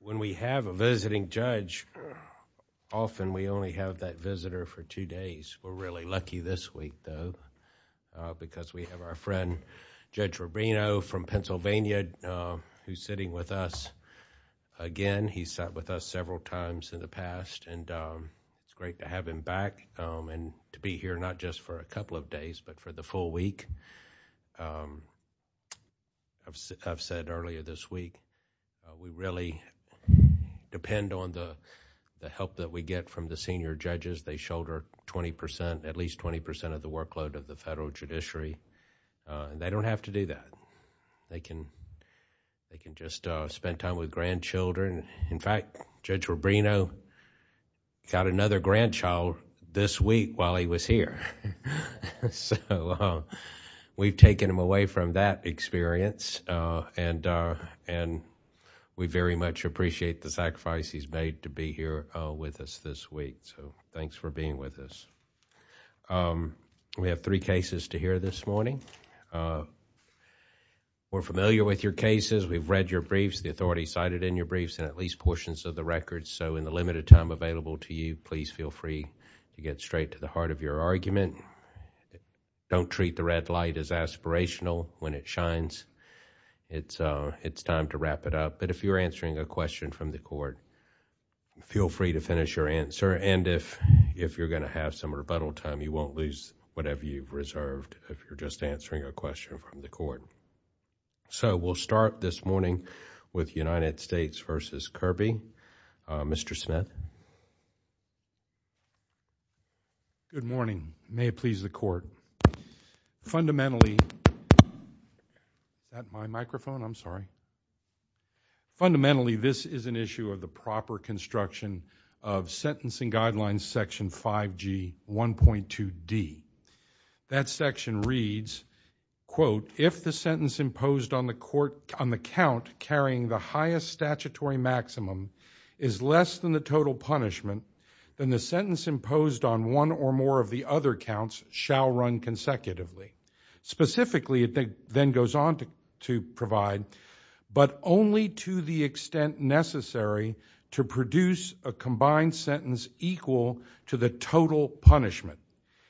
When we have a visiting judge, often we only have that visitor for two days. We're really lucky this week, though, because we have our friend Judge Rubino from Pennsylvania who's sitting with us again. He's sat with us several times in the past, and it's great to have him back and to be here not just for a couple of days, but for the full week. I've said earlier this week, we really depend on the help that we get from the senior judges. They shoulder 20%, at least 20% of the workload of the federal judiciary. They don't have to do that. They can just spend time with grandchildren. In fact, Judge Rubino got another visit, and we very much appreciate the sacrifice he's made to be here with us this week. So thanks for being with us. We have three cases to hear this morning. We're familiar with your cases. We've read your briefs. The authorities cited in your briefs and at least portions of the records. So in the limited time available to you, please feel free to get straight to the heart of your argument. Don't treat the red light as aspirational when it shines. It's time to wrap it up, but if you're answering a question from the court, feel free to finish your answer. If you're going to have some rebuttal time, you won't lose whatever you've reserved if you're just answering a question from the court. So we'll start this morning with United States v. Kirby. Mr. Smith. Good morning. May it please the court. Fundamentally, this is an issue of the proper construction of sentencing guidelines section 5G 1.2D. That section reads, quote, if the sentence imposed on the count carrying the highest statutory maximum is less than the total punishment, then the sentence imposed on one or more of the other counts shall run consecutively. Specifically, it then goes on to provide, but only to the extent necessary to produce a combined sentence equal to the total punishment.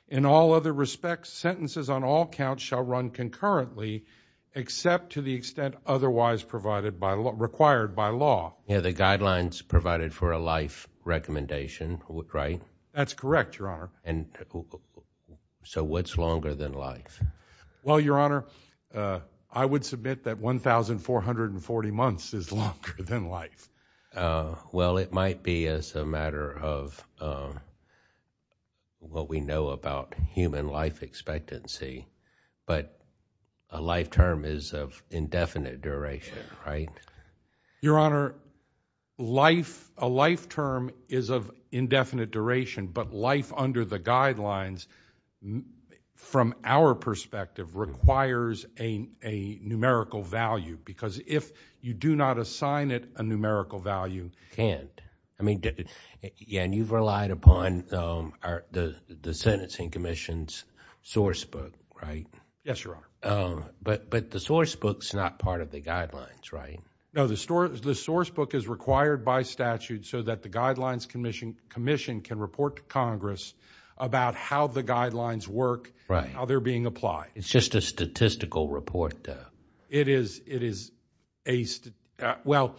In all other respects, sentences on all counts shall run concurrently, except to the extent otherwise required by law. Yeah, the guidelines provided for a life recommendation, right? That's correct, Your Honor. So what's longer than life? Well, Your Honor, I would submit that 1,440 months is longer than life. Well, it might be as a matter of what we know about human life expectancy, but a life term is of indefinite duration, right? Your Honor, a life term is of indefinite duration, but life under the guidelines from our perspective requires a numerical value, because if you do not assign it a numerical value... Can't. I mean, and you've relied upon the sentencing commission's source book, right? Yes, Your Honor. But the source book's not part of the guidelines, right? No, the source book is required by statute so that the guidelines commission can report to Congress about how the guidelines work, how they're being applied. It's just a statistical report, though? It is a... well,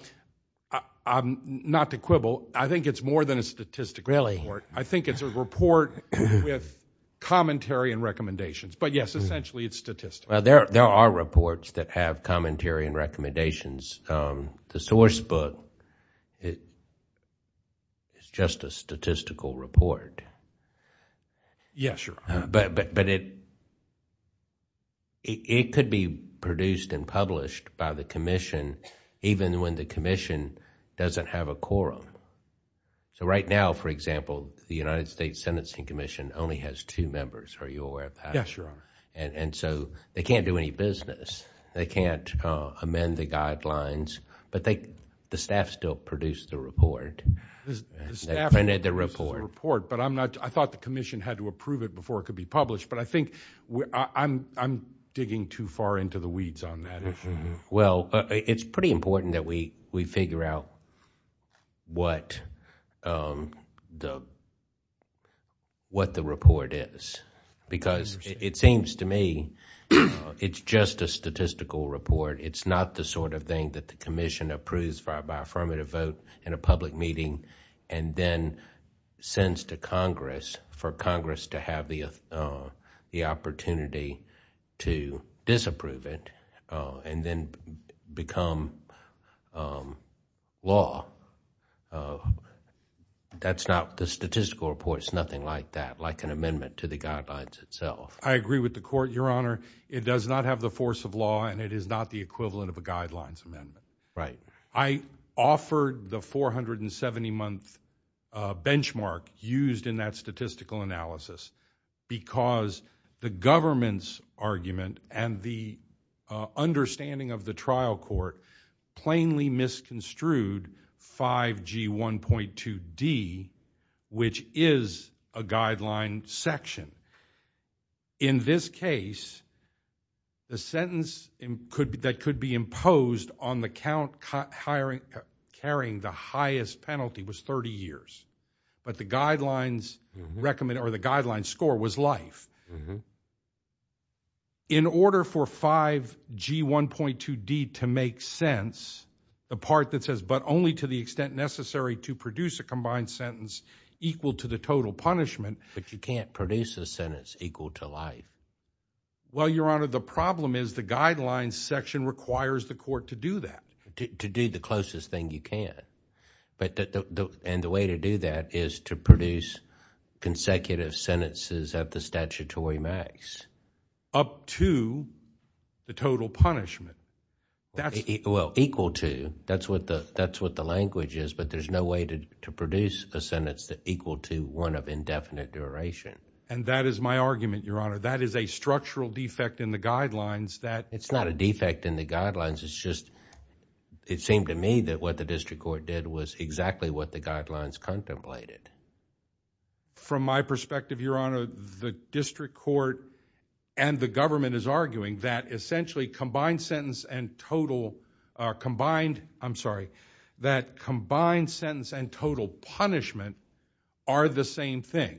not to quibble, I think it's more than a statistical report. I think it's a report with commentary and recommendations, but yes, essentially it's statistical. Well, there are reports that have commentary and recommendations. The source book is just a statistical report. Yes, Your Honor. But it could be produced and published by the commission even when the commission doesn't have a quorum. Right now, for example, the United States Sentencing Commission only has two members. Are you aware of that? Yes, Your Honor. They can't do any business. They can't amend the guidelines, but the staff still produced the report. The staff produced the report, but I'm not... I thought the commission had to approve it before it could be published, but I think I'm digging too far into the weeds on that. Well, it's pretty important that we figure out what the report is because it seems to me it's just a statistical report. It's not the sort of thing that the commission approves by affirmative vote in a public meeting and then sends to Congress for Congress to have the opportunity to disapprove it and then become law. That's not... the statistical report is nothing like that, like an amendment to the guidelines itself. I agree with the court, Your Honor. It does not have the force of law and it is not the equivalent of a guidelines amendment. I offered the 470-month benchmark used in that statistical analysis because the government's argument and the understanding of the trial court plainly misconstrued 5G1.2D, which is a guideline section. In this case, the sentence that could be imposed on the count carrying the highest penalty was 30 years, but the guidelines score was life. In order for 5G1.2D to make sense, the part that says, but only to the extent necessary to produce a combined sentence equal to the total punishment... But you can't produce a sentence equal to life. Well, Your Honor, the problem is the guidelines section requires the court to do that. To do the closest thing you can. And the way to do that is to produce consecutive sentences at the statutory max. Up to the total punishment. Equal to, that's what the language is, but there's no way to produce a sentence equal to one of indefinite duration. And that is my argument, Your Honor. That is a structural defect in the guidelines that... It's not a defect in the guidelines, it's just, it seemed to me that what the district court did was exactly what the guidelines contemplated. From my perspective, Your Honor, the district court and the government is arguing that essentially are the same thing.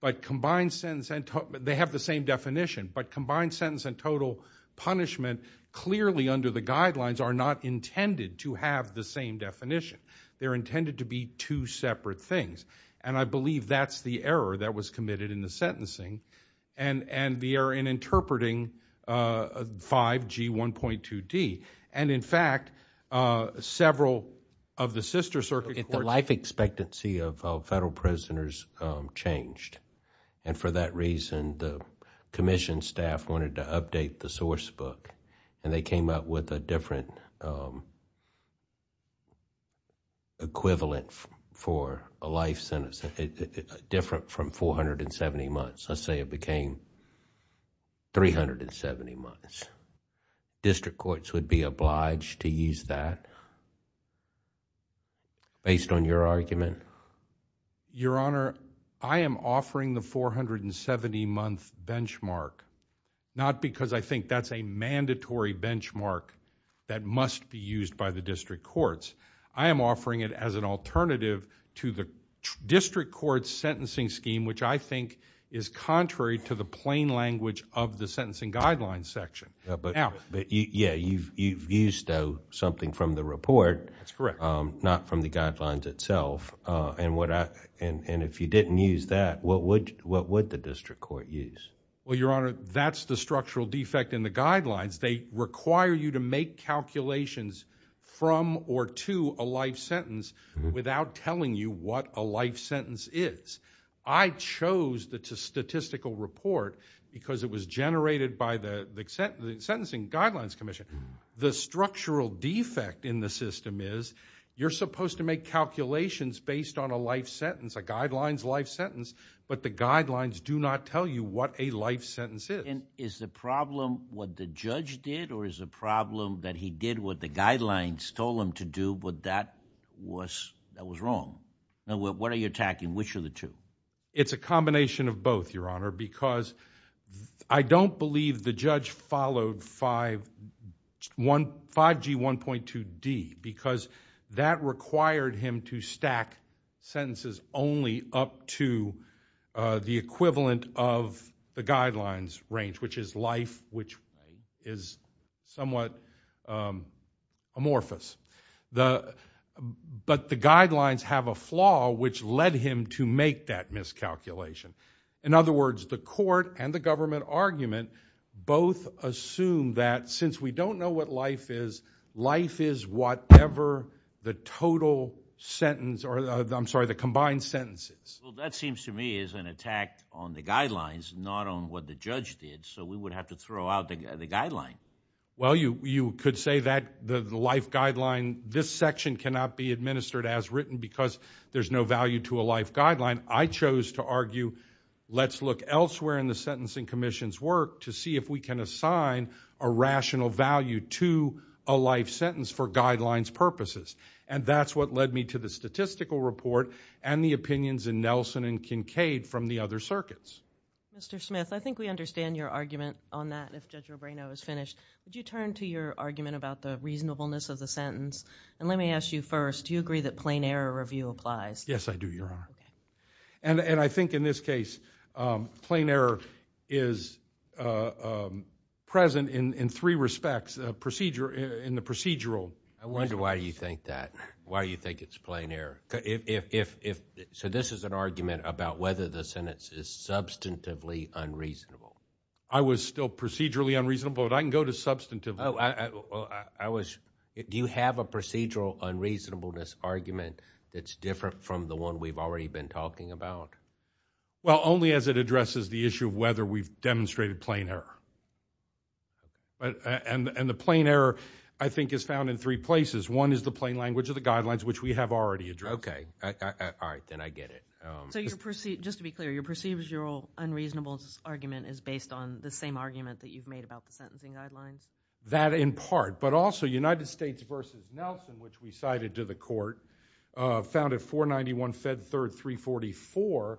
But combined sentence and total... They have the same definition, but combined sentence and total punishment clearly under the guidelines are not intended to have the same definition. They're intended to be two separate things. And I believe that's the error that was committed in the sentencing and the error in interpreting 5G1.2D. If the life expectancy of federal prisoners changed, and for that reason the Commission staff wanted to update the source book, and they came up with a different equivalent for a life sentence, different from 470 months, let's say it became 370 months. District courts would be obliged to use that, based on your argument? Your Honor, I am offering the 470 month benchmark, not because I think that's a mandatory benchmark that must be used by the district courts. I am offering it as an alternative to the district court's sentencing scheme, which I think is contrary to the plain language of the sentencing guidelines section. Yeah, you've used something from the report, not from the guidelines itself, and if you didn't use that, what would the district court use? Well, Your Honor, that's the structural defect in the guidelines. They require you to make calculations from or to a life sentence without telling you what a life sentence is. I chose the statistical report because it was generated by the Sentencing Guidelines Commission. The structural defect in the system is you're supposed to make calculations based on a life sentence, a guidelines life sentence, but the guidelines do not tell you what a life sentence is. Is the problem what the judge did, or is the problem that he did what the guidelines told him to do, but that was wrong? What are you attacking? Which are the two? It's a combination of both, Your Honor, because I don't believe the judge followed 5G1.2D because that required him to stack sentences only up to the equivalent of the guidelines range, which is life, which is somewhat amorphous, but the guidelines have a flaw which led him to make that miscalculation. In other words, the court and the government argument both assume that since we don't know what life is, life is whatever the total sentence, or I'm sorry, the combined sentences. That seems to me is an attack on the guidelines, not on what the judge did, so we would have to throw out the guideline. Well, you could say that the life guideline, this section cannot be administered as written because there's no value to a life guideline. I chose to argue, let's look elsewhere in the Sentencing Commission's work to see if we can assign a rational value to a life sentence for guidelines purposes. That's what led me to the statistical report and the opinions in Nelson and Kincaid from the other circuits. Mr. Smith, I think we understand your argument on that, and if Judge Rubino is finished, would you turn to your argument about the reasonableness of the sentence? Let me ask you first, do you agree that plain error review applies? Yes, I do, Your Honor. I think in this case, plain error is present in three respects, in the procedural... I wonder why you think that, why you think it's plain error. This is an argument about whether the sentence is substantively unreasonable. I was still procedurally unreasonable, but I can go to substantively. Do you have a procedural unreasonableness argument that's different from the one we've already been talking about? Well, only as it addresses the issue of whether we've demonstrated plain error. The plain error, I think, is found in three places. One is the plain language of the guidelines, which we have already addressed. Okay. All right, then I get it. Just to be clear, your procedural unreasonableness argument is based on the same argument that you've made about the sentencing guidelines? That in part, but also United States v. Nelson, which we cited to the court, found at 491 Fed Third 344,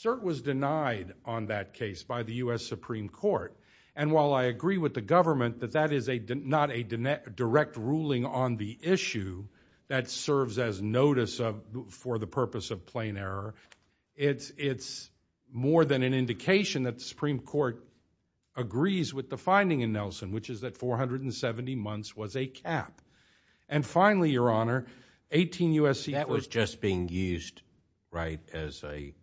cert was denied on that case by the U.S. Supreme Court. While I agree with the government that that is not a direct ruling on the issue that serves as notice for the purpose of plain error, it's more than an indication that the Supreme Court agrees with the finding in Nelson, which is that 470 months was a cap. Finally, your honor, 18 U.S.... That was just being used as a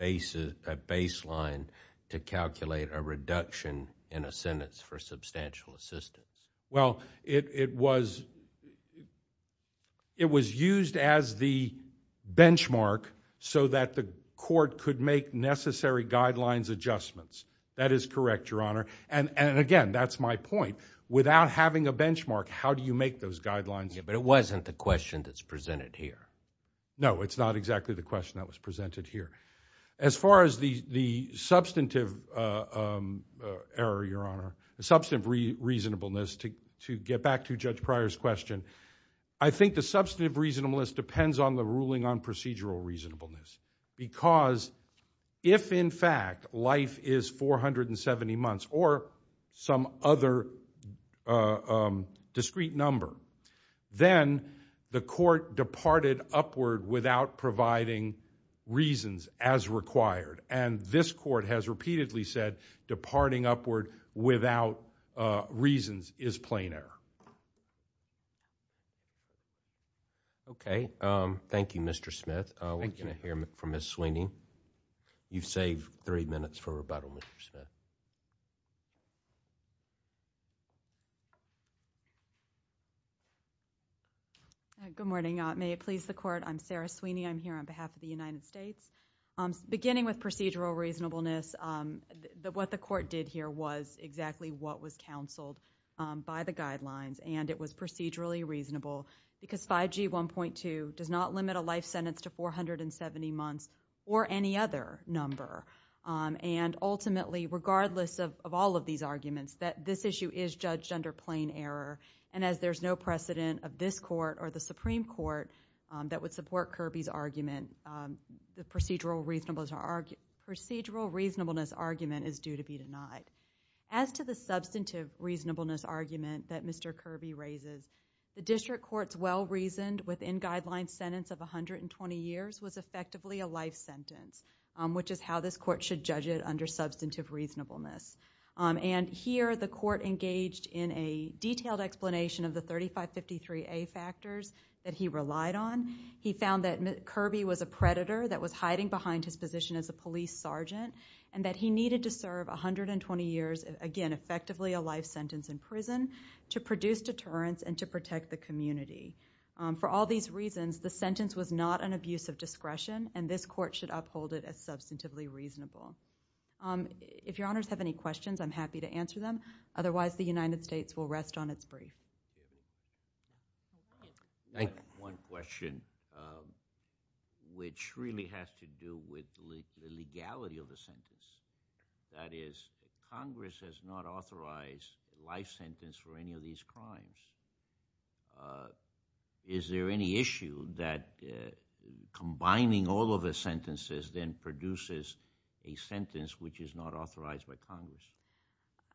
baseline to calculate a reduction in a sentence for substantial assistance. Well, it was used as the benchmark so that the court could make necessary guidelines adjustments. That is correct, your honor, and again, that's my point. Without having a benchmark, how do you make those guidelines... Yeah, but it wasn't the question that's presented here. No, it's not exactly the question that was presented here. As far as the substantive error, your honor, the substantive reasonableness, to get back to Judge Pryor's question, I think the substantive reasonableness depends on the ruling on procedural reasonableness because if, in fact, life is 470 months or some other discrete number, then the court departed upward without providing reasons as required, and this court has repeatedly said departing upward without reasons is plain error. Okay, thank you, Mr. Smith. We're going to hear from Ms. Sweeney. Good morning. May it please the court, I'm Sarah Sweeney. I'm here on behalf of the United States. Beginning with procedural reasonableness, what the court did here was exactly what was counseled by the guidelines, and it was procedurally reasonable because 5G 1.2 does not limit a all of these arguments, that this issue is judged under plain error, and as there's no precedent of this court or the Supreme Court that would support Kirby's argument, the procedural reasonableness argument is due to be denied. As to the substantive reasonableness argument that Mr. Kirby raises, the district court's well-reasoned within-guideline sentence of 120 years was effectively a life sentence, which is how this court should judge it under substantive reasonableness, and here the court engaged in a detailed explanation of the 3553A factors that he relied on. He found that Kirby was a predator that was hiding behind his position as a police sergeant, and that he needed to serve 120 years, again, effectively a life sentence in prison to produce deterrence and to protect the community. For all these reasons, the sentence was not an abuse of discretion, and this court should uphold it as substantively reasonable. If your honors have any questions, I'm happy to answer them, otherwise the United States will rest on its brief. I have one question, which really has to do with the legality of the sentence. That is, Congress has not authorized a life sentence for any of these crimes. Is there any issue that combining all of the sentences then produces a sentence which is not authorized by Congress?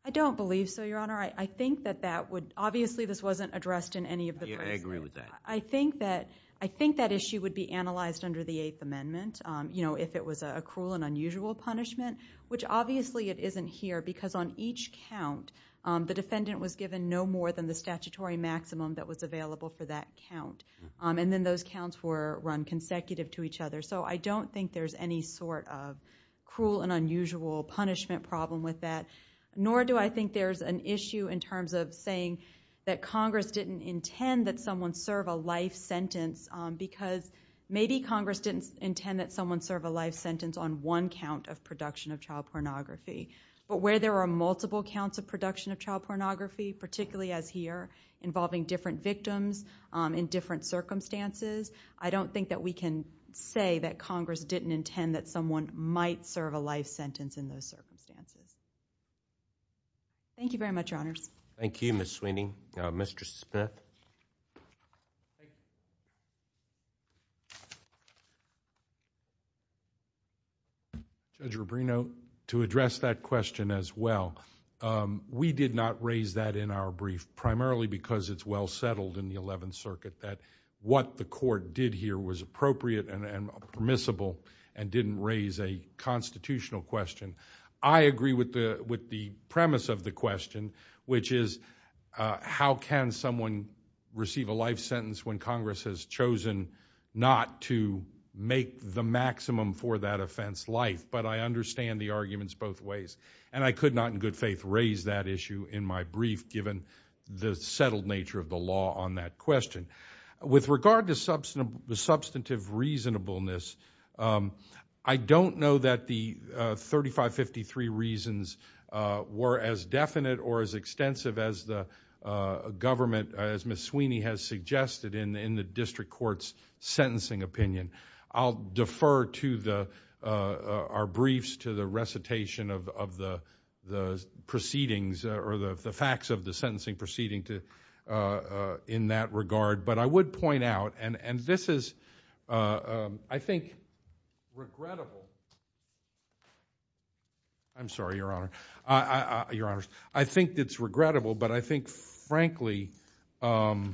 I don't believe so, your honor. I think that that would, obviously this wasn't addressed in any of the cases. I agree with that. I think that issue would be analyzed under the Eighth Amendment, you know, if it was a cruel and unusual punishment, which obviously it isn't here because on each count, the defendant was given no more than the statutory maximum that was available for that count. And then those counts were run consecutive to each other. So I don't think there's any sort of cruel and unusual punishment problem with that, nor do I think there's an issue in terms of saying that Congress didn't intend that someone serve a life sentence, because maybe Congress didn't intend that someone serve a life sentence on one count of production of child pornography, but where there are multiple counts of production of child pornography, particularly as here, involving different victims in different circumstances, I don't think that we can say that Congress didn't intend that someone might serve a life sentence in those circumstances. Thank you very much, your honors. Thank you, Ms. Sweeney. Mr. Smith? Thank you. Judge Rubino, to address that question as well. We did not raise that in our brief, primarily because it's well settled in the 11th Circuit that what the court did here was appropriate and permissible and didn't raise a constitutional question. I agree with the premise of the question, which is how can someone receive a life sentence when Congress has chosen not to make the maximum for that offense life? But I understand the arguments both ways. I could not, in good faith, raise that issue in my brief, given the settled nature of the law on that question. With regard to substantive reasonableness, I don't know that the 3553 reasons were as definite or as extensive as the government, as Ms. Sweeney has suggested in the district court's sentencing opinion. I'll defer to our briefs to the recitation of the proceedings or the facts of the sentencing proceeding in that regard. But I would point out, and this is, I think, regrettable. I'm sorry, your honors. I think it's regrettable, but I think, frankly, the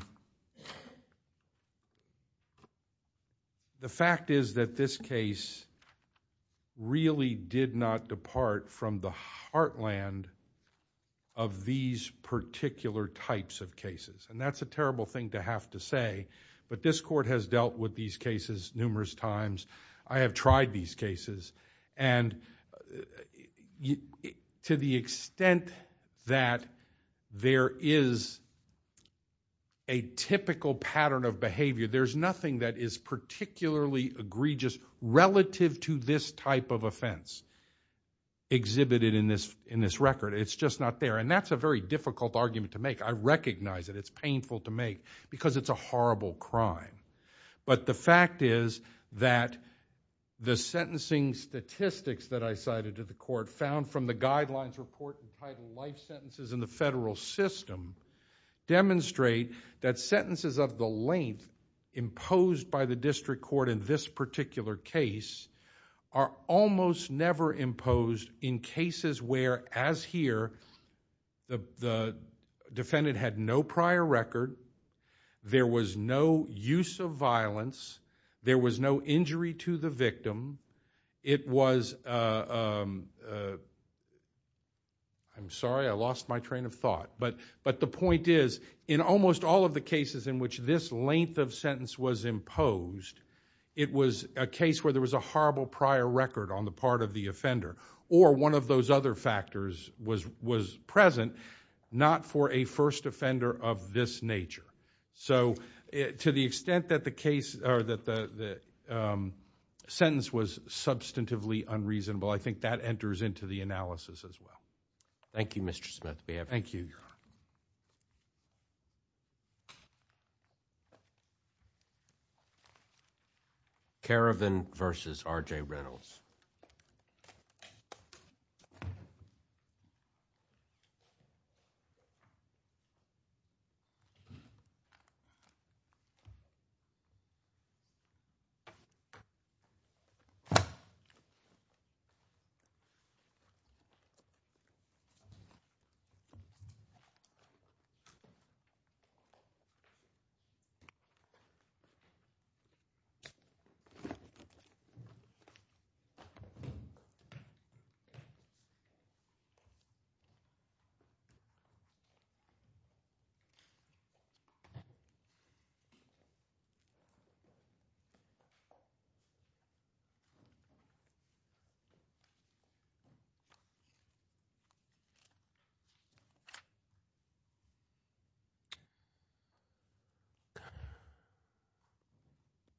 fact is that this case really did not depart from the heartland of these particular types of cases. That's a terrible thing to have to say, but this court has dealt with these cases numerous times. I have tried these cases. To the extent that there is a typical pattern of behavior, there's nothing that is particularly egregious relative to this type of offense exhibited in this record. It's just not there. That's a very difficult argument to make. I recognize it. It's painful to make because it's a horrible crime. The fact is that the sentencing statistics that I cited to the court found from the Guidelines Report entitled Life Sentences in the Federal System demonstrate that sentences of the length imposed by the district court in this particular case are almost never imposed in cases where, as here, the defendant had no prior record, there was no use of violence, there was no injury to the victim. It was... I'm sorry, I lost my train of thought. The point is, in almost all of the cases in which this length of sentence was imposed, it was a case where there was a horrible prior record on the part of the offender or one of those other factors was present, not for a first offender of this nature. To the extent that the sentence was substantively unreasonable, I think that enters into the analysis as well. Thank you, Mr. Smith. Be happy. Thank you, Your Honor. Thank you.